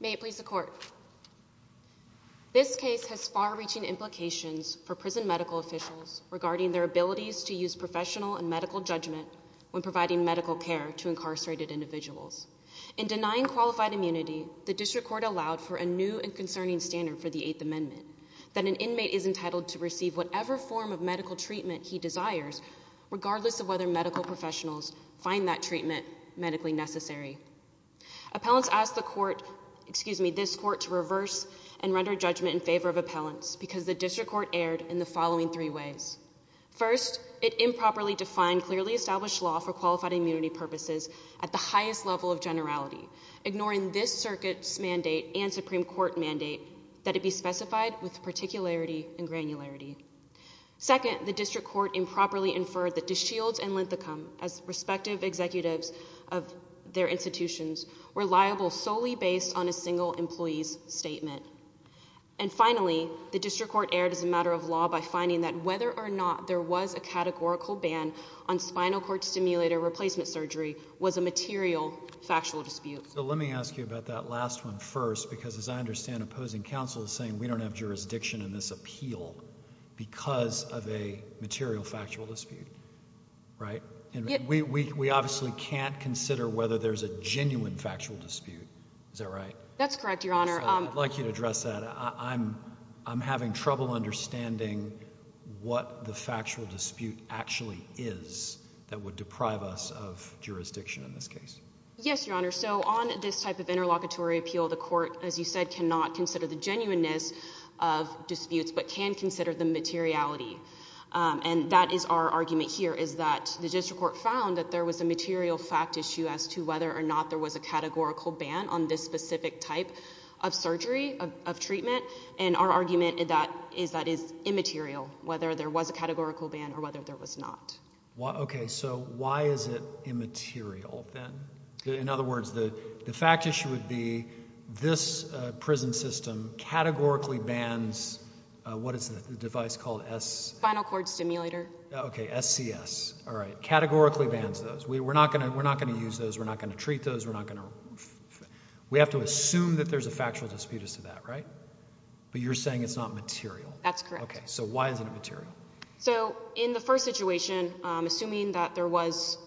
May it please the Court. This case has far-reaching implications for prison medical officials regarding their abilities to use professional and medical judgment when providing medical care to incarcerated individuals. In denying qualified immunity, the District Court allowed for a new and concerning standard for the Eighth Amendment, that an inmate is entitled to receive whatever form of medical treatment he desires, regardless of whether medical professionals find that treatment medically necessary. Appellants asked the Court, excuse me, this Court to reverse and render judgment in favor of appellants because the District Court erred in the following three ways. First, it improperly defined clearly established law for qualified immunity purposes at the highest level of generality, ignoring this Circuit's mandate and Supreme Court mandate that it be specified with particularity and granularity. Second, the District Court improperly inferred that DeShields and Linthicum, as respective executives of their institutions, were liable solely based on a single employee's statement. And finally, the District Court erred as a matter of law by finding that whether or not there was a categorical ban on spinal cord stimulator replacement surgery was a material factual dispute. So let me ask you about that last one first, because as I understand, opposing counsel is saying we don't have jurisdiction in this appeal because of a material factual dispute, right? And we obviously can't consider whether there's a genuine factual dispute, is that right? That's correct, Your Honor. I'd like you to address that. I'm having trouble understanding what the factual dispute actually is that would deprive us of jurisdiction in this case. Yes, Your Honor. So on this type of interlocutory appeal, the court, as you said, cannot consider the genuineness of disputes, but can consider the materiality. And that is our argument here, is that the District Court found that there was a material factual dispute as to whether or not there was a categorical ban on this specific type of surgery, of treatment. And our argument is that is immaterial, whether there was a categorical ban or whether there was not. Okay. So why is it immaterial, then? In other words, the fact issue would be this prison system categorically bans, what is the device called? Spinal cord stimulator. Okay, SCS. All right. Categorically bans those. We're not going to use those. We're not going to treat those. We're not going to... We have to assume that there's a factual dispute as to that, right? But you're saying it's not material. That's correct. Okay. So why is it immaterial? So in the first situation, assuming that there was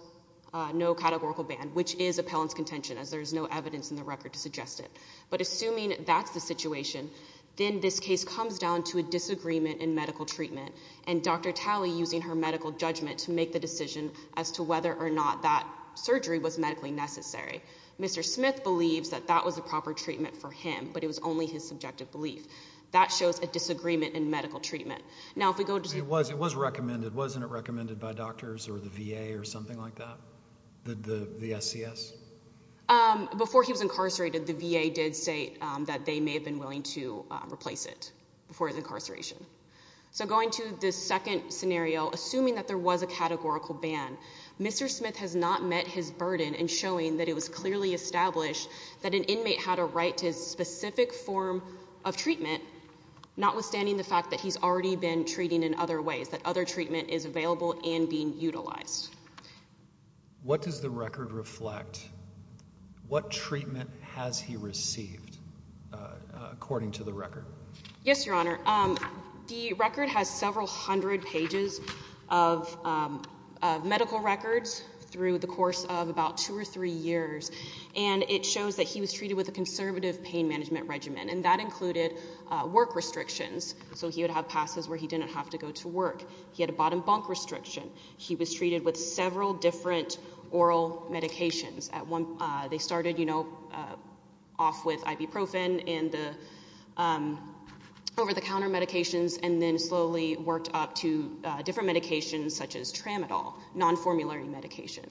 no categorical ban, which is appellant's contention, as there is no evidence in the record to suggest it. But assuming that's the situation, then this case comes down to a disagreement in medical treatment and Dr. Talley using her medical judgment to make the decision as to whether or not that surgery was medically necessary. Mr. Smith believes that that was the proper treatment for him, but it was only his subjective belief. That shows a disagreement in medical treatment. Now if we go to... It was recommended. Wasn't it recommended by doctors or the VA or something like that? The SCS? Before he was incarcerated, the VA did say that they may have been willing to replace it before his incarceration. So going to the second scenario, assuming that there was a categorical ban, Mr. Smith has not met his burden in showing that it was clearly established that an inmate had a right to his specific form of treatment, notwithstanding the fact that he's already been treated in other ways, that other treatment is available and being utilized. What does the record reflect? What treatment has he received according to the record? Yes, Your Honor. The record has several hundred pages of medical records through the course of about two or three years, and it shows that he was treated with a conservative pain management regimen, and that included work restrictions, so he would have passes where he didn't have to go to work. He had a bottom bunk restriction. He was treated with several different oral medications. They started, you know, off with ibuprofen and the over-the-counter medications, and then slowly worked up to different medications such as tramadol, non-formulary medications.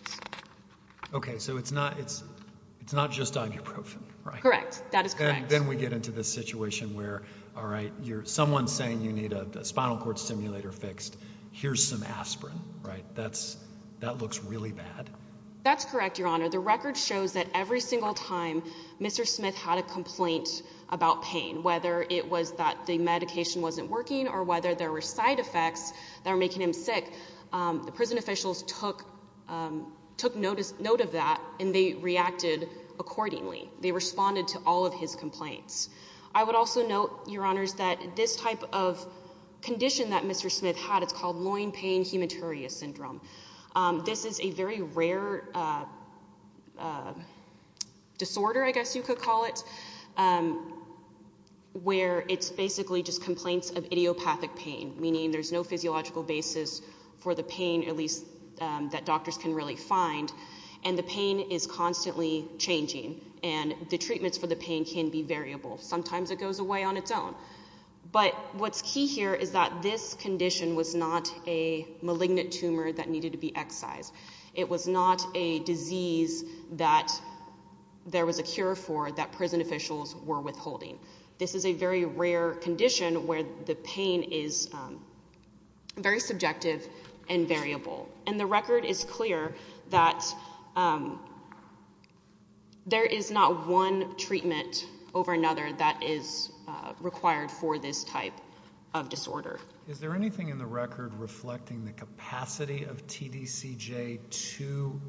Okay, so it's not just ibuprofen, right? Correct. That is correct. And then we get into this situation where, all right, someone's saying you need a spinal cord stimulator fixed, here's some aspirin, right? That looks really bad. That's correct, Your Honor. The record shows that every single time Mr. Smith had a complaint about pain, whether it was that the medication wasn't working or whether there were side effects that were making him sick, the prison officials took note of that, and they reacted accordingly. They responded to all of his complaints. I would also note, Your Honors, that this type of condition that Mr. Smith had, it's called loin pain hematuria syndrome. This is a very rare disorder, I guess you could call it, where it's basically just complaints of idiopathic pain, meaning there's no physiological basis for the pain, at least that doctors can really find, and the pain is constantly changing, and the treatments for the pain can be variable. Sometimes it goes away on its own. But what's key here is that this condition was not a malignant tumor that needed to be excised. It was not a disease that there was a cure for that prison officials were withholding. This is a very rare condition where the pain is very subjective and variable, and the record is clear that there is not one treatment over another that is required for this type of disorder. Is there anything in the record reflecting the capacity of TDCJ to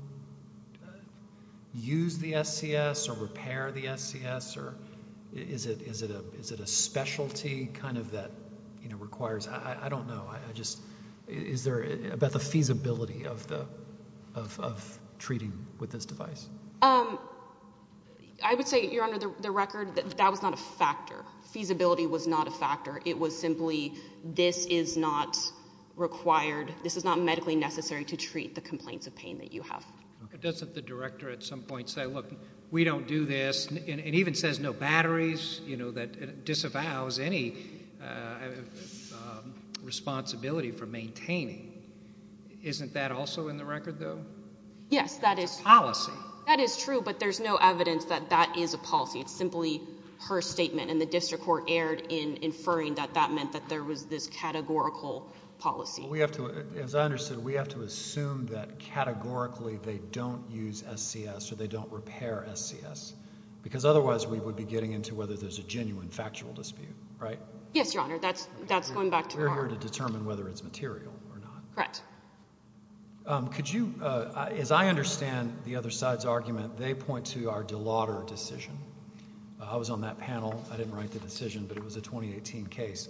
use the SCS or repair the SCS, or is it a specialty kind of that requires, I don't know, is there, about the capacity of treating with this device? I would say, Your Honor, the record, that was not a factor. Feasibility was not a factor. It was simply, this is not required, this is not medically necessary to treat the complaints of pain that you have. Doesn't the director at some point say, look, we don't do this, and even says no batteries, you know, that disavows any responsibility for maintaining. Isn't that also in the record, though? Yes, that is. It's a policy. That is true, but there's no evidence that that is a policy. It's simply her statement, and the district court erred in inferring that that meant that there was this categorical policy. We have to, as I understood, we have to assume that categorically they don't use SCS, or they don't repair SCS, because otherwise we would be getting into whether there's a genuine factual dispute, right? Yes, Your Honor, that's going back to our... Correct. Could you, as I understand the other side's argument, they point to our De Lauder decision. I was on that panel. I didn't write the decision, but it was a 2018 case.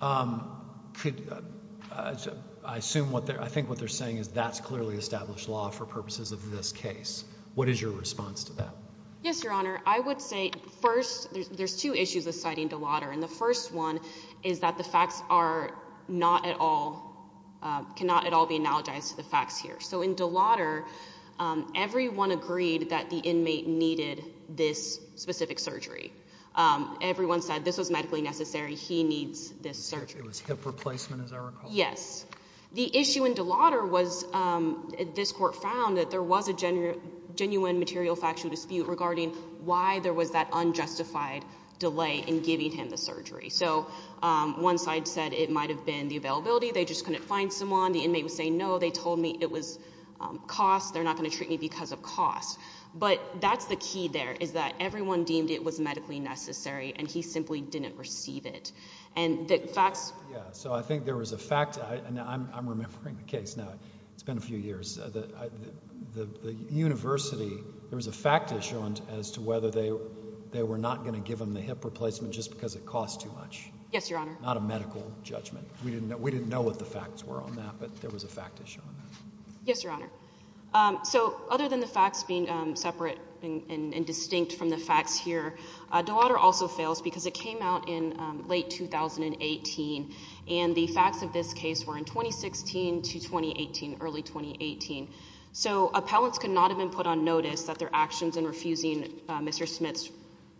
I assume what they're, I think what they're saying is that's clearly established law for purposes of this case. What is your response to that? Yes, Your Honor. I would say first, there's two issues of citing De Lauder, and the first one is that the facts are not at all, cannot at all be analogized to the facts here. So in De Lauder, everyone agreed that the inmate needed this specific surgery. Everyone said this was medically necessary. He needs this surgery. It was hip replacement, as I recall. Yes. The issue in De Lauder was this court found that there was a genuine material factual dispute regarding why there was that unjustified delay in giving him the surgery. So one side said it might have been the availability. They just couldn't find someone. The inmate was saying, no, they told me it was cost. They're not going to treat me because of cost. But that's the key there, is that everyone deemed it was medically necessary, and he simply didn't receive it. And the facts. Yeah. So I think there was a fact, and I'm remembering the case now. It's been a few years. The university, there was a fact issue as to whether they were not going to give him the hip replacement just because it cost too much. Yes, Your Honor. Not a medical judgment. We didn't know. We didn't know what the facts were on that, but there was a fact issue on that. Yes, Your Honor. So other than the facts being separate and distinct from the facts here, De Lauder also fails because it came out in late 2018, and the facts of this case were in 2016 to 2018, early 2018. So appellants could not have been put on notice that their actions in refusing Mr. Smith's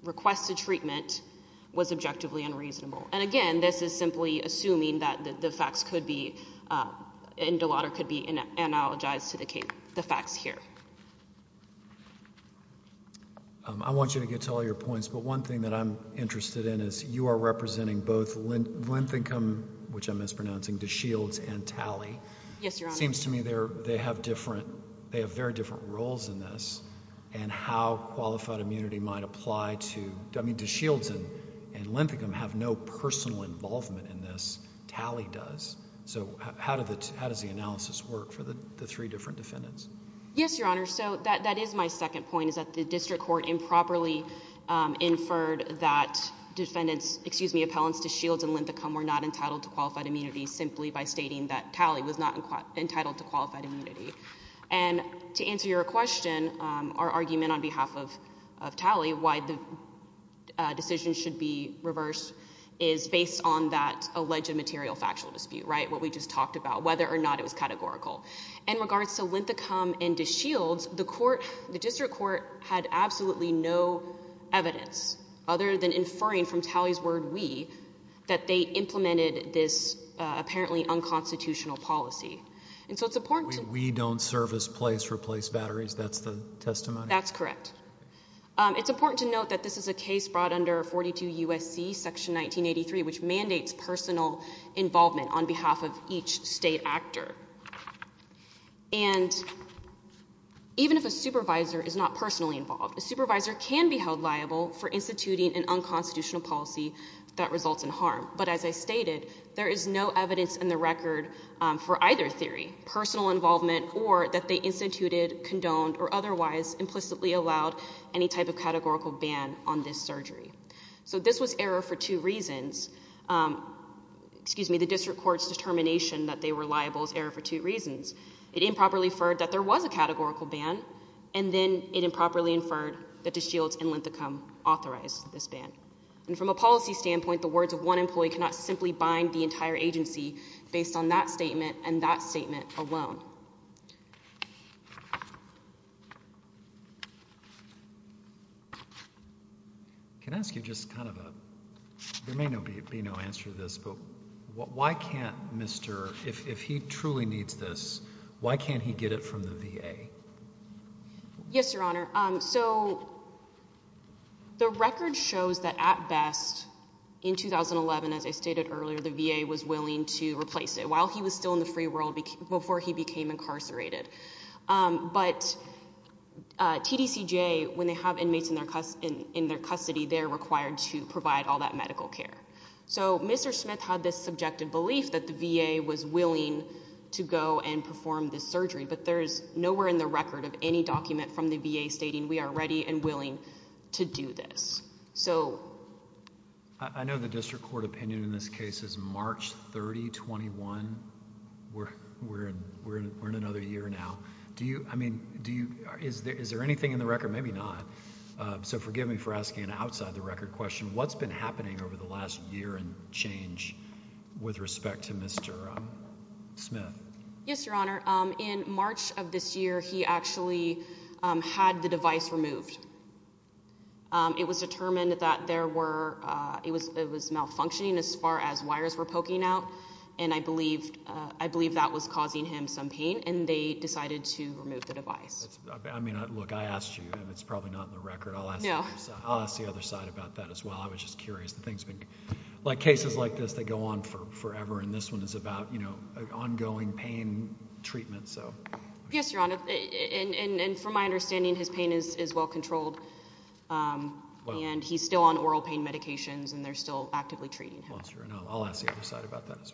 requested treatment was objectively unreasonable. And again, this is simply assuming that the facts could be, and De Lauder could be analogized to the facts here. I want you to get to all your points, but one thing that I'm interested in is you are representing both length income, which I'm mispronouncing, to shields and tally. Yes, Your Honor. Seems to me they have different, they have very different roles in this, and how qualified immunity might apply to, I mean, do shields and length income have no personal involvement in this? Tally does. So how does the analysis work for the three different defendants? Yes, Your Honor. So that is my second point, is that the district court improperly inferred that defendants, excuse me, appellants to shields and length income were not entitled to qualified immunity simply by stating that tally was not entitled to qualified immunity. And to answer your question, our argument on behalf of Tally, why the decision should be reversed is based on that alleged material factual dispute, right, what we just talked about, whether or not it was categorical. In regards to length income and to shields, the court, the district court had absolutely no evidence other than inferring from Tally's word, we, that they implemented this apparently unconstitutional policy. And so it's important to... We don't service place replace batteries, that's the testimony? That's correct. It's important to note that this is a case brought under 42 U.S.C. section 1983, which mandates personal involvement on behalf of each state actor. And even if a supervisor is not personally involved, a supervisor can be held liable for instituting an unconstitutional policy that results in harm. But as I stated, there is no evidence in the record for either theory, personal involvement or that they instituted, condoned, or otherwise implicitly allowed any type of categorical ban on this surgery. So this was error for two reasons, excuse me, the district court's determination that they were liable is error for two reasons, it improperly inferred that there was a categorical ban and then it improperly inferred that the shields and length income authorized this ban. And from a policy standpoint, the words of one employee cannot simply bind the entire agency based on that statement and that statement alone. Can I ask you just kind of a... There may be no answer to this, but why can't Mr... If he truly needs this, why can't he get it from the VA? Yes, Your Honor. So the record shows that at best in 2011, as I stated earlier, the VA was willing to replace it while he was still in the free world before he became incarcerated. But TDCJ, when they have inmates in their custody, they're required to provide all that medical care. So Mr. Smith had this subjective belief that the VA was willing to go and perform this So, I know the district court opinion in this case is March 30, 21, we're in another year now. Do you... I mean, do you... Is there anything in the record? Maybe not. So forgive me for asking an outside the record question. What's been happening over the last year and change with respect to Mr. Smith? Yes, Your Honor. In March of this year, he actually had the device removed. It was determined that there were... It was malfunctioning as far as wires were poking out, and I believe that was causing him some pain, and they decided to remove the device. I mean, look, I asked you, and it's probably not in the record, I'll ask the other side about that as well. I was just curious. The thing's been... Like, cases like this, they go on forever, and this one is about, you know, ongoing pain treatment, so... Yes, Your Honor, and from my understanding, his pain is well-controlled, and he's still on oral pain medications, and they're still actively treating him. Well, sure, and I'll ask the other side about that as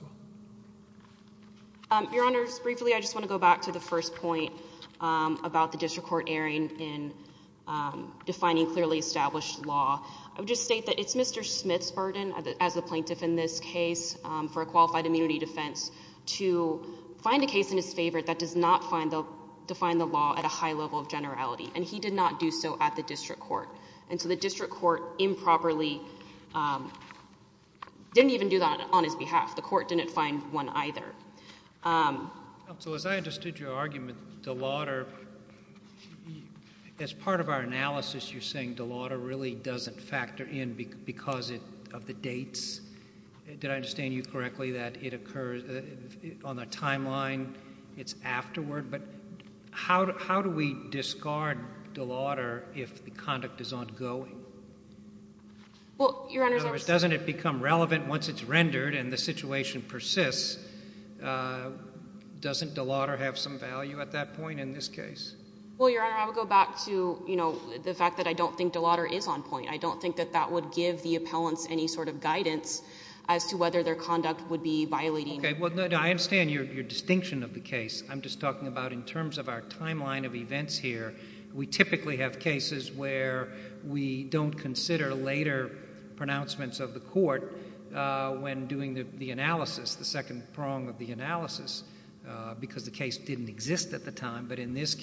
well. Your Honor, just briefly, I just want to go back to the first point about the district court erring in defining clearly established law. I would just state that it's Mr. Smith's burden, as the plaintiff in this case, for a qualified immunity defense, to find a case in his favor that does not define the law at a high level of generality, and he did not do so at the district court, and so the district court improperly didn't even do that on his behalf. The court didn't find one either. Counsel, as I understood your argument, DeLauder, as part of our analysis, you're saying DeLauder really doesn't factor in because of the dates? Did I understand you correctly that it occurs on a timeline, it's afterward, but how do we discard DeLauder if the conduct is ongoing? Well, Your Honor... In other words, doesn't it become relevant once it's rendered and the situation persists? Doesn't DeLauder have some value at that point in this case? Well, Your Honor, I would go back to the fact that I don't think DeLauder is on point. I don't think that that would give the appellants any sort of guidance as to whether their conduct would be violating... Okay, well, I understand your distinction of the case. I'm just talking about in terms of our timeline of events here, we typically have cases where we don't consider later pronouncements of the court when doing the analysis, the second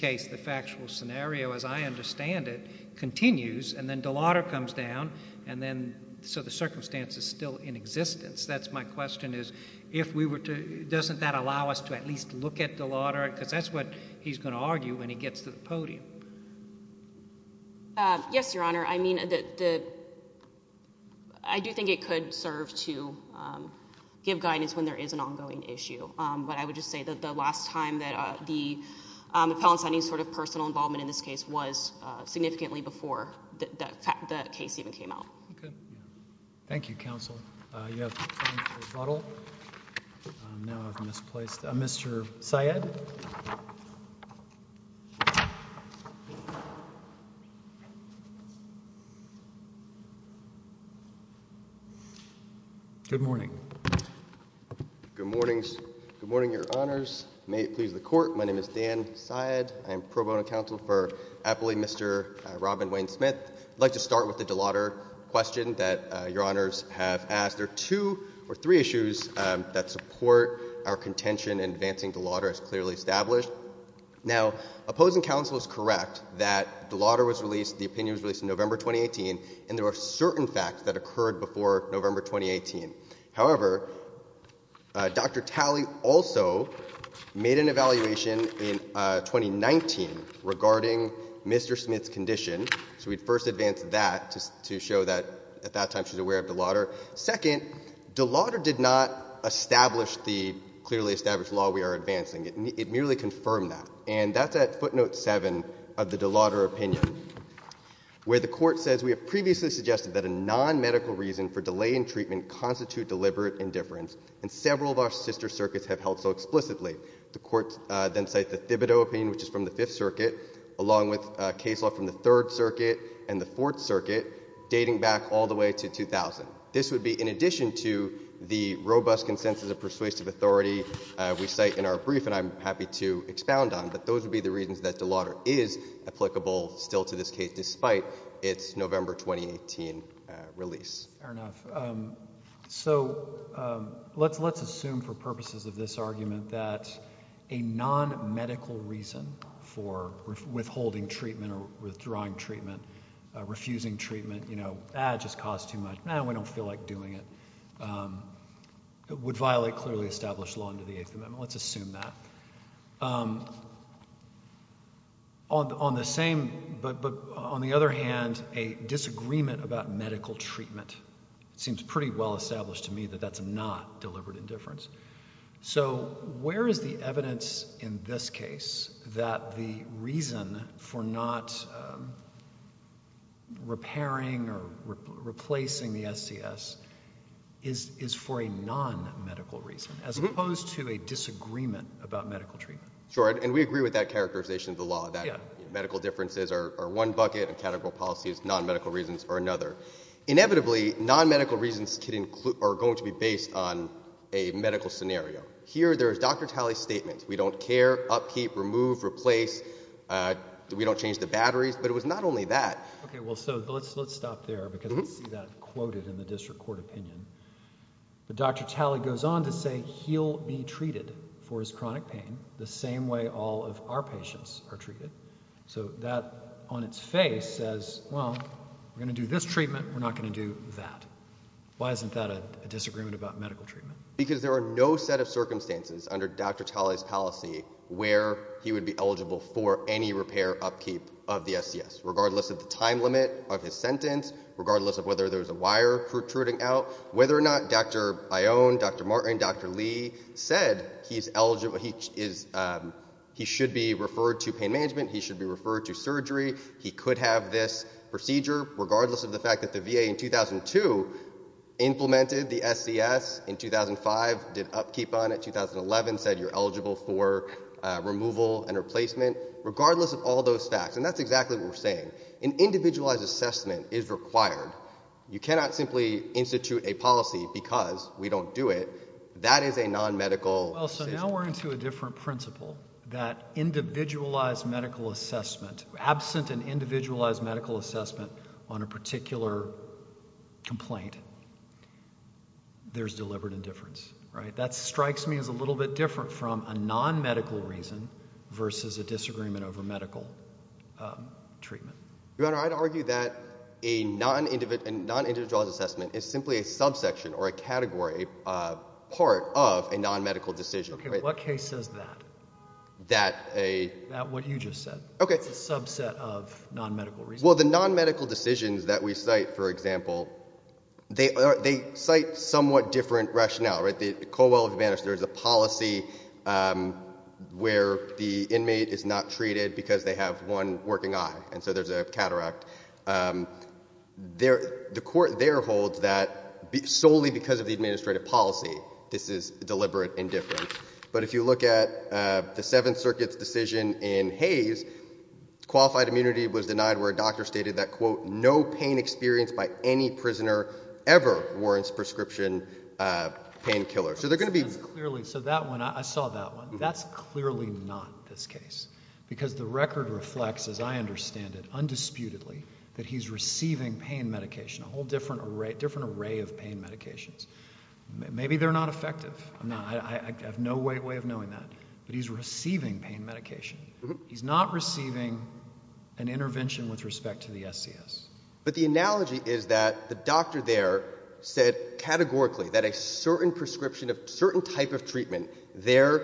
case, the factual scenario, as I understand it, continues and then DeLauder comes down and then... So the circumstance is still in existence. That's my question, is if we were to... Doesn't that allow us to at least look at DeLauder? Because that's what he's going to argue when he gets to the podium. Yes, Your Honor. I mean, I do think it could serve to give guidance when there is an ongoing issue, but I would just say that the last time that the appellants had any sort of personal involvement in this case was significantly before the case even came out. Thank you, counsel. You have time for rebuttal. Now I've misplaced... Good morning. Good morning, Your Honor. Good morning, Your Honors. May it please the Court. My name is Dan Syed. I am pro bono counsel for Appellee Mr. Robin Wayne-Smith. I'd like to start with the DeLauder question that Your Honors have asked. There are two or three issues that support our contention in advancing DeLauder as clearly established. Now, opposing counsel is correct that DeLauder was released, the opinion was released in November 2018, and there were certain facts that occurred before November 2018. However, Dr. Talley also made an evaluation in 2019 regarding Mr. Smith's condition, so we'd first advance that to show that at that time she was aware of DeLauder. Second, DeLauder did not establish the clearly established law we are advancing. It merely confirmed that, and that's at footnote 7 of the DeLauder opinion, where the Court says we have previously suggested that a nonmedical reason for delay in treatment constitute deliberate indifference, and several of our sister circuits have held so explicitly. The Court then cites the Thibodeau opinion, which is from the Fifth Circuit, along with case law from the Third Circuit and the Fourth Circuit, dating back all the way to 2000. This would be in addition to the robust consensus of persuasive authority we cite in our brief and I'm happy to expound on, but those would be the reasons that DeLauder is applicable still to this case despite its November 2018 release. Fair enough. So let's assume for purposes of this argument that a nonmedical reason for withholding treatment or withdrawing treatment, refusing treatment, you know, ah, it just costs too much, no, we don't feel like doing it, would violate clearly established law under the Eighth Amendment. Let's assume that. Um, on the same, but on the other hand, a disagreement about medical treatment seems pretty well established to me that that's not deliberate indifference. So where is the evidence in this case that the reason for not repairing or replacing the SCS is for a nonmedical reason as opposed to a disagreement about medical treatment? Sure. And we agree with that characterization of the law that medical differences are one bucket and categorical policies, nonmedical reasons are another. Inevitably nonmedical reasons are going to be based on a medical scenario. Here there is Dr. Talley's statement. We don't care, upkeep, remove, replace, we don't change the batteries, but it was not only that. Okay, well, so let's, let's stop there because we see that quoted in the district court opinion. But Dr. Talley goes on to say he'll be treated for his chronic pain the same way all of our patients are treated. So that on its face says, well, we're going to do this treatment. We're not going to do that. Why isn't that a disagreement about medical treatment? Because there are no set of circumstances under Dr. Talley's policy where he would be sentenced, regardless of whether there's a wire protruding out, whether or not Dr. Bayon, Dr. Martin, Dr. Lee said he's eligible, he is, he should be referred to pain management. He should be referred to surgery. He could have this procedure, regardless of the fact that the VA in 2002 implemented the SCS, in 2005 did upkeep on it, 2011 said you're eligible for removal and replacement, regardless of all those facts. And that's exactly what we're saying. An individualized assessment is required. You cannot simply institute a policy because we don't do it. That is a non-medical. Well, so now we're into a different principle, that individualized medical assessment, absent an individualized medical assessment on a particular complaint, there's deliberate indifference, right? That strikes me as a little bit different from a non-medical reason versus a disagreement over medical treatment. Your Honor, I'd argue that a non-individualized assessment is simply a subsection or a category, a part of a non-medical decision. Okay, what case says that? That a... That what you just said. Okay. It's a subset of non-medical reasons. Well, the non-medical decisions that we cite, for example, they cite somewhat different rationale, right? In Colwell v. Bannister, there's a policy where the inmate is not treated because they have one working eye, and so there's a cataract. The court there holds that solely because of the administrative policy, this is deliberate indifference. But if you look at the Seventh Circuit's decision in Hayes, qualified immunity was denied where a doctor stated that, quote, no pain experienced by any prisoner ever warrants prescription pain killer. So they're going to be... That's clearly... So that one, I saw that one. That's clearly not this case because the record reflects, as I understand it, undisputedly that he's receiving pain medication, a whole different array of pain medications. Maybe they're not effective. I have no way of knowing that, but he's receiving pain medication. He's not receiving an intervention with respect to the SCS. But the analogy is that the doctor there said categorically that a certain prescription of... Certain type of treatment, their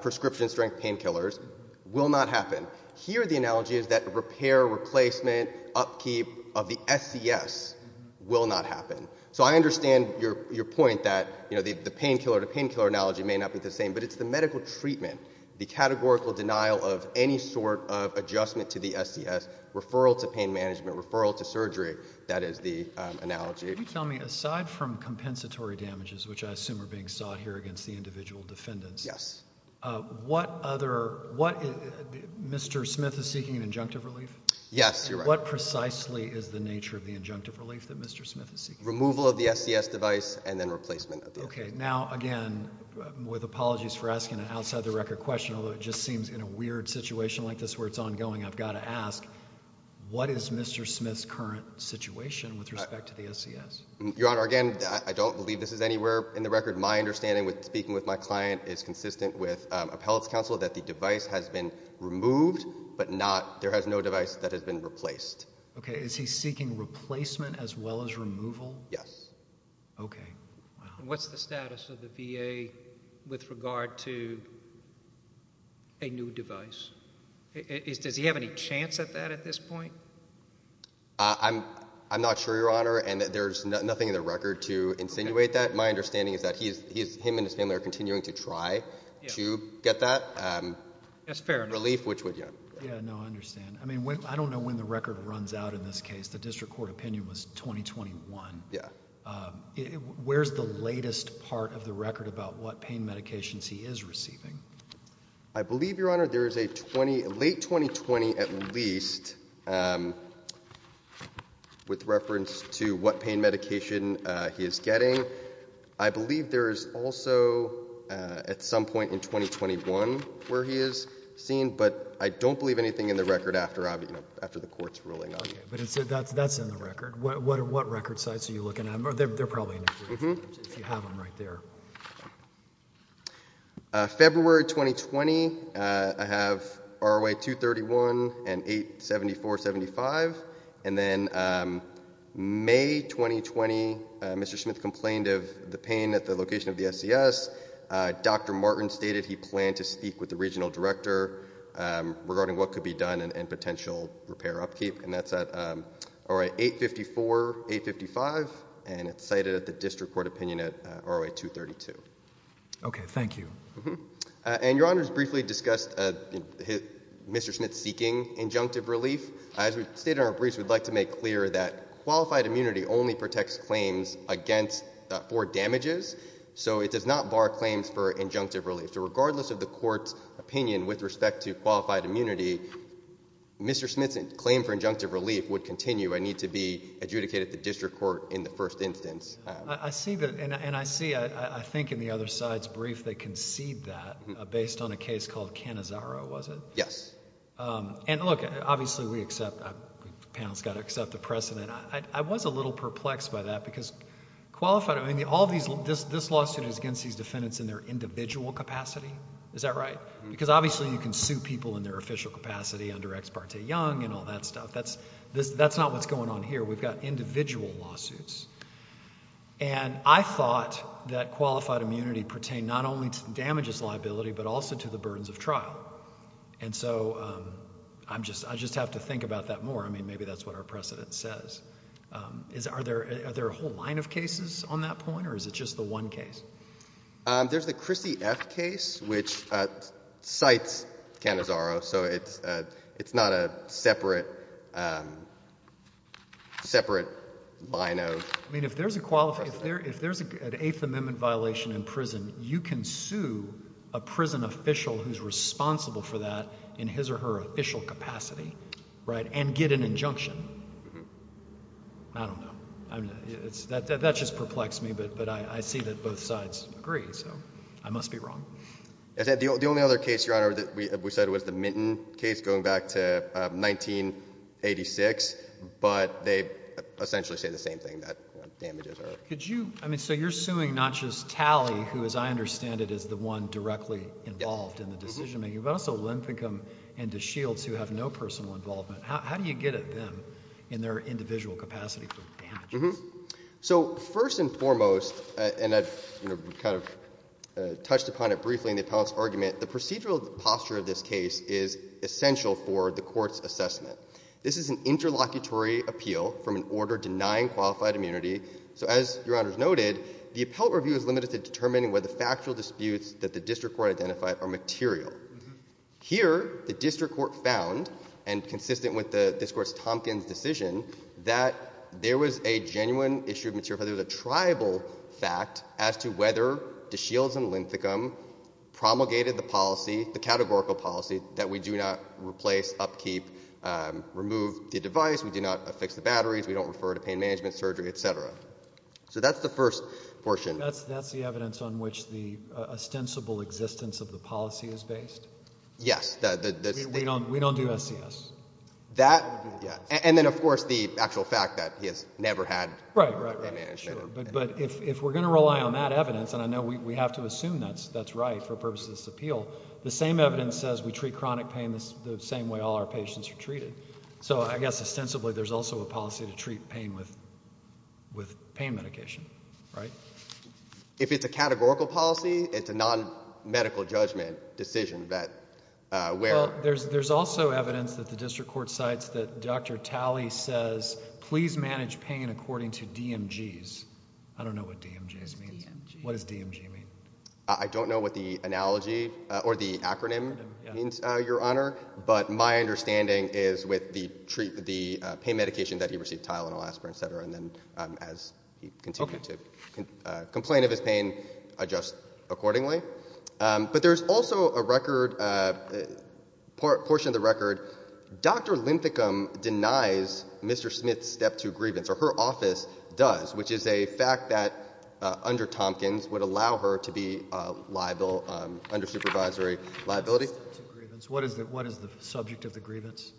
prescription-strength painkillers will not happen. Here the analogy is that repair, replacement, upkeep of the SCS will not happen. So I understand your point that, you know, the painkiller-to-painkiller analogy may not be the same, but it's the medical treatment, the categorical denial of any sort of adjustment to the SCS, referral to pain management, referral to surgery, that is the analogy. Can you tell me, aside from compensatory damages, which I assume are being sought here against the individual defendants... Yes. What other... What... Mr. Smith is seeking an injunctive relief? Yes, you're right. What precisely is the nature of the injunctive relief that Mr. Smith is seeking? Removal of the SCS device and then replacement of the... Okay. In a situation like this where it's ongoing, I've got to ask, what is Mr. Smith's current situation with respect to the SCS? Your Honor, again, I don't believe this is anywhere in the record. My understanding, speaking with my client, is consistent with appellate's counsel that the device has been removed, but not... There has no device that has been replaced. Okay. Is he seeking replacement as well as removal? Yes. Okay. Wow. What's the status of the VA with regard to a new device? Does he have any chance at that at this point? I'm not sure, Your Honor, and there's nothing in the record to insinuate that. My understanding is that he and his family are continuing to try to get that relief, which would... That's fair enough. Yeah, no, I understand. I don't know when the record runs out in this case. The district court opinion was 2021. Yeah. Where's the latest part of the record about what pain medications he is receiving? I believe, Your Honor, there is a late 2020 at least with reference to what pain medication he is getting. I believe there is also at some point in 2021 where he is seen, but I don't believe anything in the record after the court's ruling on him. Okay, but that's in the record. What record sites are you looking at? They're probably in there, too, if you have them right there. February 2020, I have ROA 231 and 87475, and then May 2020, Mr. Smith complained of the pain at the location of the SCS. Dr. Martin stated he planned to speak with the regional director regarding what could be done in potential repair upkeep, and that's at ROA 854, 855, and it's cited at the district court opinion at ROA 232. Okay, thank you. And Your Honor has briefly discussed Mr. Smith seeking injunctive relief. As we stated in our briefs, we'd like to make clear that qualified immunity only protects claims against, for damages, so it does not bar claims for injunctive relief. So regardless of the court's opinion with respect to qualified immunity, Mr. Smith's claim for injunctive relief would continue and need to be adjudicated at the district court in the first instance. I see that, and I see, I think in the other side's brief, they concede that based on a case called Cannizzaro, was it? Yes. And look, obviously we accept, the panel's got to accept the precedent. I was a little perplexed by that because qualified, I mean, all these, this lawsuit is against these defendants in their individual capacity. Is that right? Because obviously you can sue people in their official capacity under ex parte young and all that stuff. That's, that's not what's going on here. We've got individual lawsuits. And I thought that qualified immunity pertained not only to damages liability, but also to the burdens of trial. And so, I'm just, I just have to think about that more, I mean, maybe that's what our precedent says. Is, are there, are there a whole line of cases on that point, or is it just the one case? There's the Chrissy F. case, which cites Cannizzaro, so it's, it's not a separate, separate line of precedent. I mean, if there's a qualified, if there, if there's a, an Eighth Amendment violation in prison, you can sue a prison official who's responsible for that in his or her official capacity. Right? And get an injunction. I don't know. I mean, it's, that, that just perplexed me, but, but I, I see that both sides agree, so I must be wrong. As I said, the only other case, Your Honor, that we, we said was the Minton case going back to 1986, but they essentially say the same thing, that, you know, damages are. Could you, I mean, so you're suing not just Talley, who, as I understand it, is the one directly involved in the decision making, but also Linthicum and DeShields, who have no personal involvement. How, how do you get at them in their individual capacity for damages? Mm-hmm. So first and foremost, and I've, you know, kind of touched upon it briefly in the appellant's argument, the procedural posture of this case is essential for the court's assessment. This is an interlocutory appeal from an order denying qualified immunity. So as Your Honor's noted, the appellate review is limited to determining whether factual disputes that the district court identified are material. Mm-hmm. Here, the district court found, and consistent with the, this Court's Tompkins decision, that there was a genuine issue of material, whether it was a triable fact as to whether DeShields and Linthicum promulgated the policy, the categorical policy, that we do not replace, upkeep, remove the device, we do not affix the batteries, we don't refer to pain management, surgery, et cetera. So that's the first portion. That's the evidence on which the ostensible existence of the policy is based? Yes. We don't do SCS. That, yeah. And then, of course, the actual fact that he has never had pain management. Right, right. But if we're going to rely on that evidence, and I know we have to assume that's right for purposes of this appeal, the same evidence says we treat chronic pain the same way all our patients are treated. So I guess, ostensibly, there's also a policy to treat pain with pain medication, right? If it's a categorical policy, it's a non-medical judgment decision that, where? There's also evidence that the district court cites that Dr. Talley says, please manage pain according to DMGs. I don't know what DMGs means. DMGs. What does DMG mean? I don't know what the analogy, or the acronym, means, Your Honor, but my understanding is with the treat, the pain medication that he received, Tylenol, Aspirin, et cetera, and then, as he continued to complain of his pain, adjust accordingly. But there's also a record, portion of the record, Dr. Linthicum denies Mr. Smith's step two grievance, or her office does, which is a fact that, under Tompkins, would allow her to be liable, under supervisory liability. What is the subject of the grievance?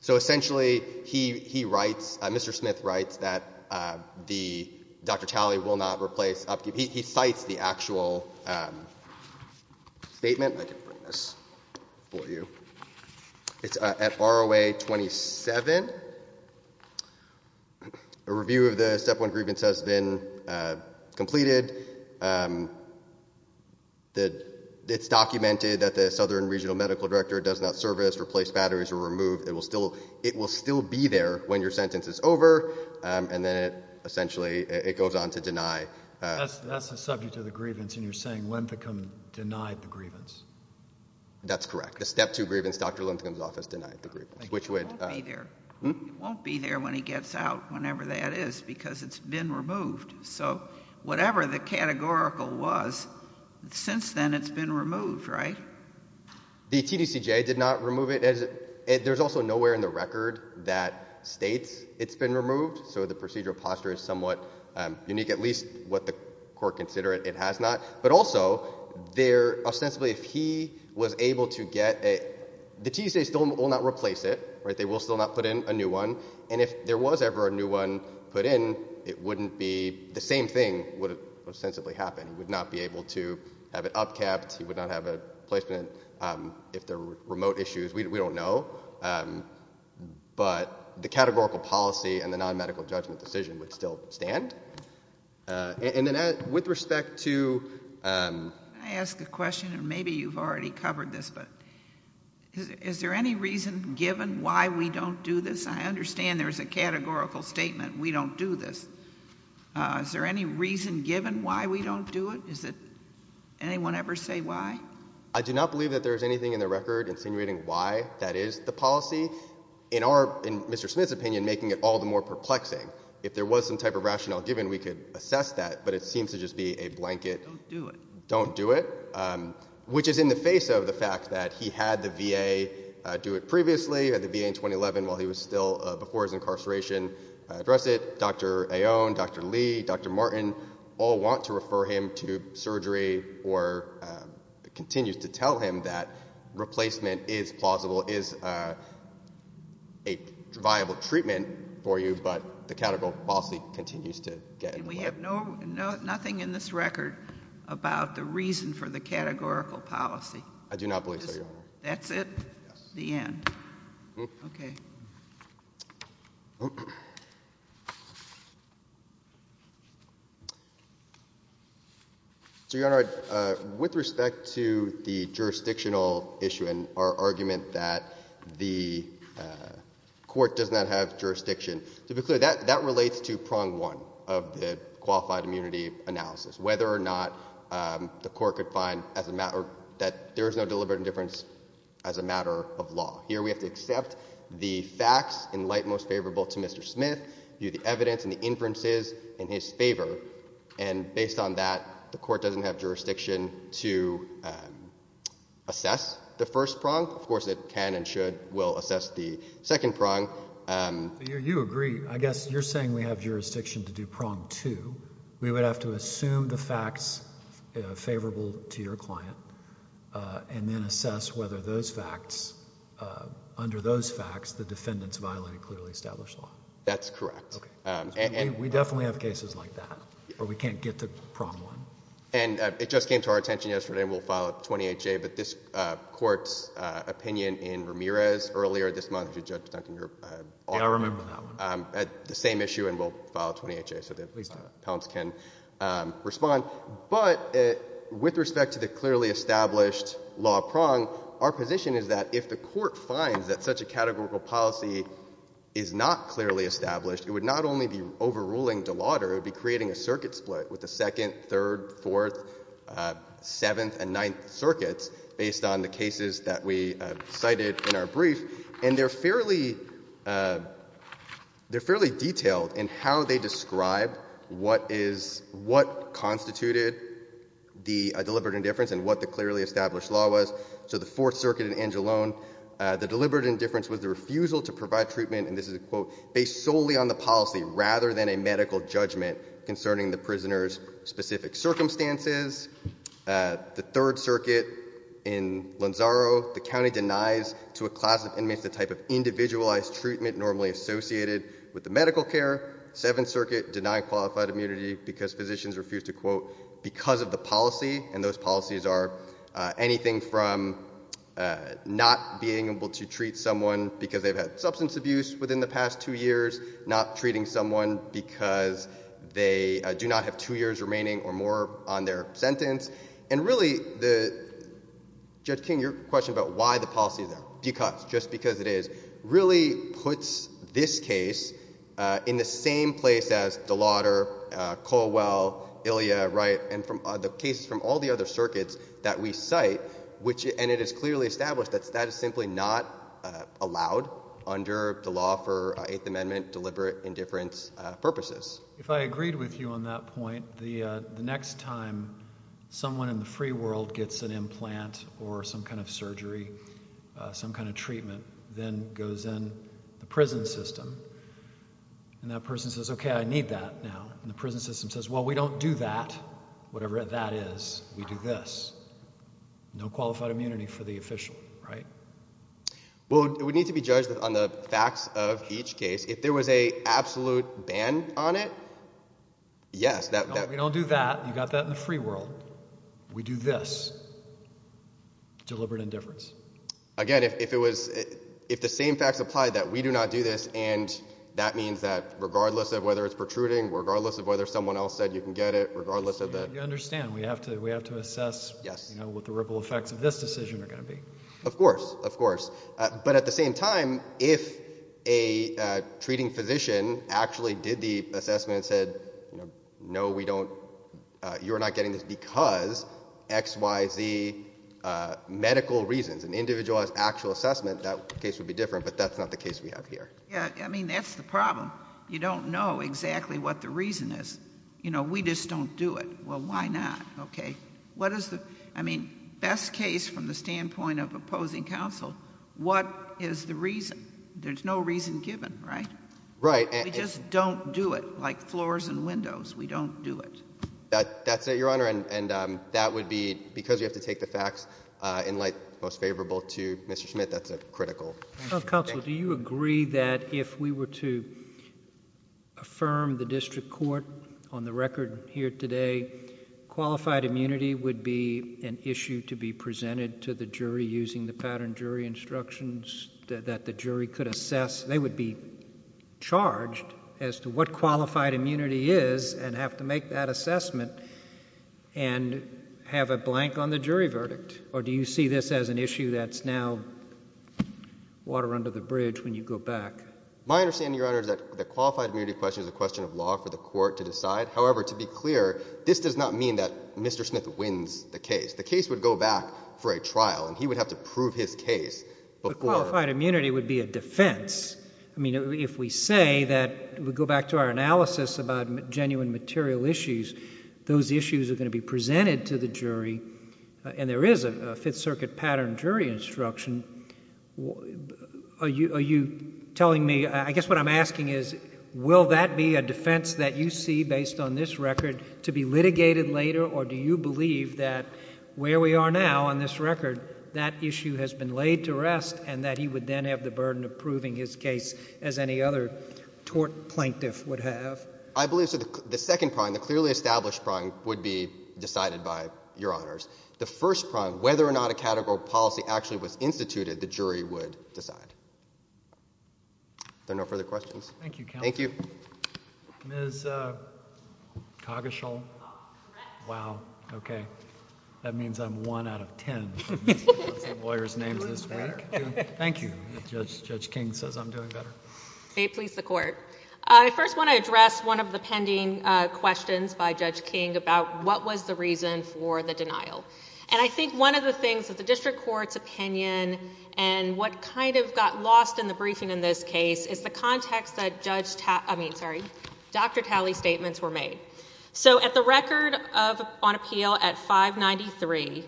So essentially, he writes, Mr. Smith writes, that Dr. Talley will not replace, he cites the actual statement, I can bring this for you, it's at ROA 27, a review of the step one grievance has been completed, it's documented that the Southern Regional Medical Director does not service, replace batteries, or remove, it will still be there when your sentence is over, and then, essentially, it goes on to deny. That's the subject of the grievance, and you're saying Linthicum denied the grievance? That's correct. The step two grievance, Dr. Linthicum's office denied the grievance, which would It won't be there. It won't be there when he gets out, whenever that is, because it's been removed. So whatever the categorical was, since then, it's been removed, right? The TDCJ did not remove it, there's also nowhere in the record that states it's been removed, so the procedural posture is somewhat unique, at least what the court consider it has not, but also, there, ostensibly, if he was able to get, the TDCJ still will not replace it, they will still not put in a new one, and if there was ever a new one put in, it wouldn't be, the same thing would ostensibly happen, he would not be able to have it upkept, he would not be able to replace it, if there were remote issues, we don't know, but the categorical policy and the non-medical judgment decision would still stand, and then with respect to Can I ask a question, and maybe you've already covered this, but is there any reason, given why we don't do this, I understand there's a categorical statement, we don't do this, is there any reason given why we don't do it, is it, anyone ever say why? I do not believe that there's anything in the record insinuating why that is the policy, in our, in Mr. Smith's opinion, making it all the more perplexing, if there was some type of rationale given, we could assess that, but it seems to just be a blanket, don't do it, which is in the face of the fact that he had the VA do it previously, had the VA in 2011 while he was still, before his incarceration, address it, Dr. Aon, Dr. Lee, Dr. Martin, all want to refer him to surgery, or continues to tell him that replacement is plausible, is a viable treatment for you, but the categorical policy continues to get in the way. And we have no, nothing in this record about the reason for the categorical policy? I do not believe so, Your Honor. That's it? Yes. The end. Okay. So, Your Honor, with respect to the jurisdictional issue and our argument that the court does not have jurisdiction, to be clear, that relates to prong one of the qualified immunity analysis, whether or not the court could find as a matter, that there is no deliberate indifference as a matter of law. Here, we have to accept the facts in light most favorable to Mr. Smith, view the evidence and the inferences in his favor, and based on that, the court doesn't have jurisdiction to assess the first prong, of course it can and should, will assess the second prong. You agree, I guess you're saying we have jurisdiction to do prong two, we would have to assume the facts, under those facts, the defendants violated clearly established law? That's correct. Okay. We definitely have cases like that, but we can't get to prong one. And it just came to our attention yesterday, and we'll file a 28-J, but this Court's opinion in Ramirez earlier this month, Judge Duncan, you're off now, had the same issue and we'll file a 28-J so the appellants can respond, but with respect to the clearly established law prong, our position is that if the Court finds that such a categorical policy is not clearly established, it would not only be overruling De Lauder, it would be creating a circuit split with the second, third, fourth, seventh, and ninth circuits based on the cases that we cited in our brief, and they're fairly detailed in how they clearly established law was, so the fourth circuit in Angeloan, the deliberate indifference was the refusal to provide treatment, and this is a quote, based solely on the policy rather than a medical judgment concerning the prisoner's specific circumstances. The third circuit in Lanzaro, the county denies to a class of inmates the type of individualized treatment normally associated with the medical care. Seventh circuit, denying qualified immunity because physicians refused to quote, because of the policy, and those policies are anything from not being able to treat someone because they've had substance abuse within the past two years, not treating someone because they do not have two years remaining or more on their sentence, and really, Judge King, your question about why the policy is there, because, just because it is, really puts this case in the same place as De Lauder, Colwell, Ilya, Wright, and the cases from all the other circuits that we cite, and it is clearly established that that is simply not allowed under the law for Eighth Amendment deliberate indifference purposes. If I agreed with you on that point, the next time someone in the free world gets an implant or some kind of surgery, some kind of treatment, then goes in the prison system, and that person says, okay, I need that now, and the prison system says, well, we don't do that, whatever that is, we do this. No qualified immunity for the official, right? Well, it would need to be judged on the facts of each case. If there was an absolute ban on it, yes, that would be... No, we don't do that, you got that in the free world. We do this. Deliberate indifference. Again, if it was, if the same facts apply, that we do not do this, and that means that regardless of whether it's protruding, regardless of whether someone else said you can get it, regardless of the... You understand, we have to assess what the ripple effects of this decision are going to be. Of course, of course. But at the same time, if a treating physician actually did the assessment and said, no, we don't, you're not getting this because X, Y, Z, medical reasons, an individualized actual assessment, that case would be different, but that's not the case we have here. Yeah, I mean, that's the problem. You don't know exactly what the reason is. You know, we just don't do it. Well, why not, okay? What is the... I mean, best case from the standpoint of opposing counsel, what is the reason? There's no reason given, right? Right. We just don't do it, like floors and windows. We don't do it. That's it, Your Honor, and that would be because you have to take the facts in light most favorable to Mr. Schmidt. That's a critical... Counsel, do you agree that if we were to affirm the district court on the record here today, qualified immunity would be an issue to be presented to the jury using the pattern jury instructions that the jury could assess? They would be charged as to what qualified immunity is and have to make that assessment and have a blank on the jury verdict, or do you see this as an issue that's now water under the bridge when you go back? My understanding, Your Honor, is that the qualified immunity question is a question of law for the court to decide. However, to be clear, this does not mean that Mr. Schmidt wins the case. The case would go back for a trial, and he would have to prove his case before... I mean, if we say that, we go back to our analysis about genuine material issues, those issues are going to be presented to the jury, and there is a Fifth Circuit pattern jury instruction, are you telling me... I guess what I'm asking is, will that be a defense that you see based on this record to be litigated later, or do you believe that where we are now on this record, that issue has been laid to rest and that he would then have the burden of proving his case as any other tort plaintiff would have? I believe so. The second prong, the clearly established prong, would be decided by Your Honors. The first prong, whether or not a categorical policy actually was instituted, the jury would decide. If there are no further questions. Thank you, Counselor. Thank you. Ms. Coggeshall? Oh, correct. Wow. Okay. That means I'm one out of ten. That's the lawyer's name this week. You look better. Thank you. Judge King says I'm doing better. Okay. Please, the Court. I first want to address one of the pending questions by Judge King about what was the reason for the denial. I think one of the things that the district court's opinion and what kind of got lost in the briefing in this case is the context that Dr. Talley's statements were made. At the record on appeal at 593,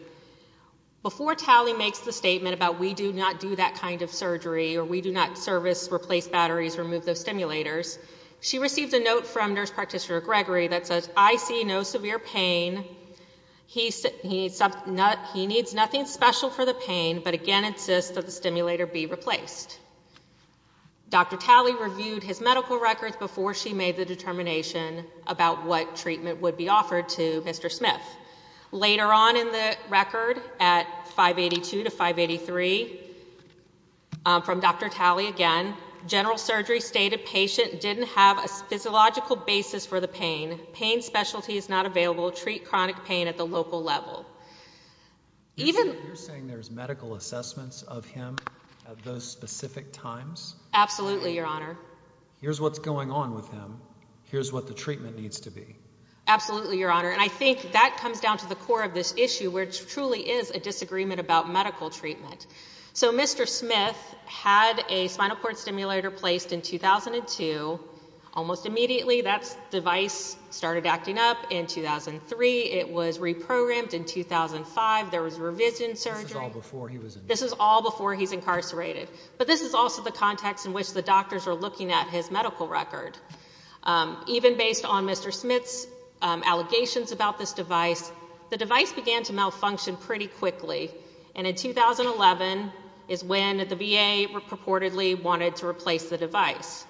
before Talley makes the statement about we do not do that kind of surgery or we do not service replace batteries, remove those stimulators, she received a note from Nurse Practitioner Gregory that says, I see no severe pain. He needs nothing special for the pain, but again insists that the stimulator be replaced. Dr. Talley reviewed his medical records before she made the determination about what treatment would be offered to Mr. Smith. Later on in the record, at 582 to 583, from Dr. Talley again, general surgery stated patient didn't have a physiological basis for the pain. Pain specialty is not available. Treat chronic pain at the local level. You're saying there's medical assessments of him at those specific times? Absolutely, Your Honor. Here's what's going on with him. Here's what the treatment needs to be. Absolutely, Your Honor. And I think that comes down to the core of this issue, which truly is a disagreement about medical treatment. So Mr. Smith had a spinal cord stimulator placed in 2002. Almost immediately, that device started acting up in 2003. It was reprogrammed in 2005. There was revision surgery. This is all before he was incarcerated. But this is also the context in which the doctors are looking at his medical record. Even based on Mr. Smith's allegations about this device, the device began to malfunction pretty quickly. And in 2011 is when the VA purportedly wanted to replace the device.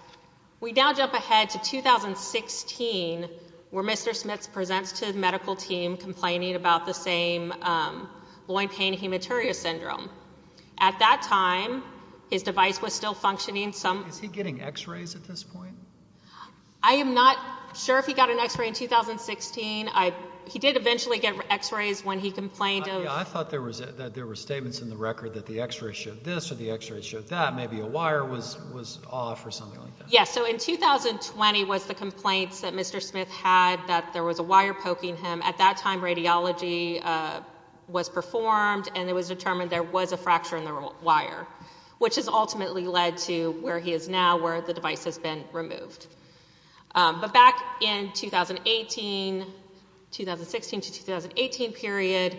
We now jump ahead to 2016, where Mr. Smith presents to the medical team complaining about the same loin pain hematuria syndrome. At that time, his device was still functioning some... I am not sure if he got an x-ray in 2016. He did eventually get x-rays when he complained of... I thought there were statements in the record that the x-ray showed this or the x-ray showed that. Maybe a wire was off or something like that. Yeah. So in 2020 was the complaints that Mr. Smith had that there was a wire poking him. At that time, radiology was performed, and it was determined there was a fracture in But back in 2018, 2016 to 2018 period,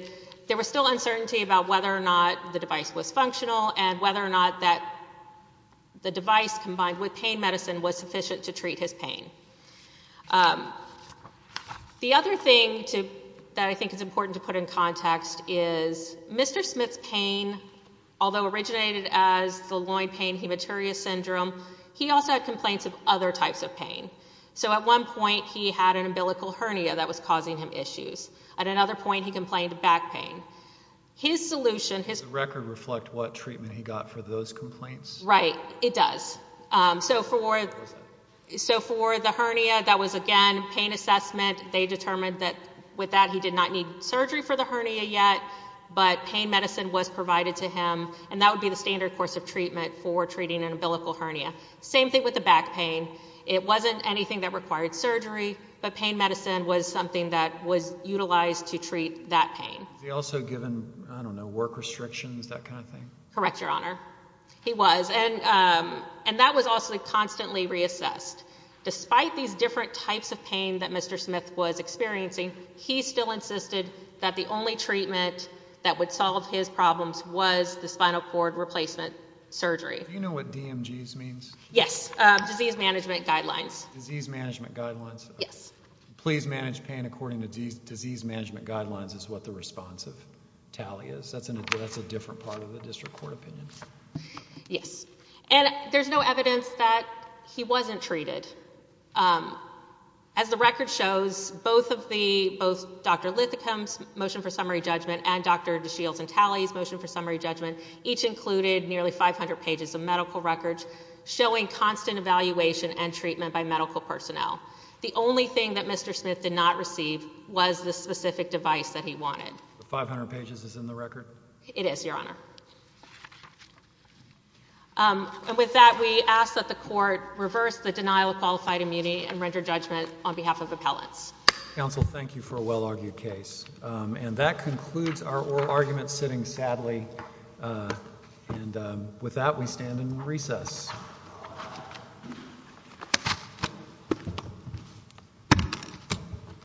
there was still uncertainty about whether or not the device was functional and whether or not that the device combined with pain medicine was sufficient to treat his pain. The other thing that I think is important to put in context is Mr. Smith's pain, although originated as the loin pain hematuria syndrome, he also had complaints of other types of pain. So at one point, he had an umbilical hernia that was causing him issues. At another point, he complained of back pain. His solution... Does the record reflect what treatment he got for those complaints? Right. It does. So for the hernia, that was, again, pain assessment. They determined that with that, he did not need surgery for the hernia yet, but pain And that would be the standard course of treatment for treating an umbilical hernia. Same thing with the back pain. It wasn't anything that required surgery, but pain medicine was something that was utilized to treat that pain. Was he also given, I don't know, work restrictions, that kind of thing? Correct, Your Honor. He was. And that was also constantly reassessed. Despite these different types of pain that Mr. Smith was experiencing, he still insisted that the only treatment that would solve his problems was the spinal cord replacement surgery. Do you know what DMGs means? Yes. Disease Management Guidelines. Disease Management Guidelines. Yes. Please manage pain according to Disease Management Guidelines is what the responsive tally is. That's a different part of the district court opinion. Yes. And there's no evidence that he wasn't treated. As the record shows, both Dr. Lithicum's motion for summary judgment and Dr. DeShields and Talley's motion for summary judgment each included nearly 500 pages of medical records showing constant evaluation and treatment by medical personnel. The only thing that Mr. Smith did not receive was the specific device that he wanted. The 500 pages is in the record? It is, Your Honor. And with that, we ask that the court reverse the denial of qualified immunity and render judgment on behalf of appellants. Counsel, thank you for a well-argued case. And that concludes our oral argument sitting sadly, and with that, we stand in recess.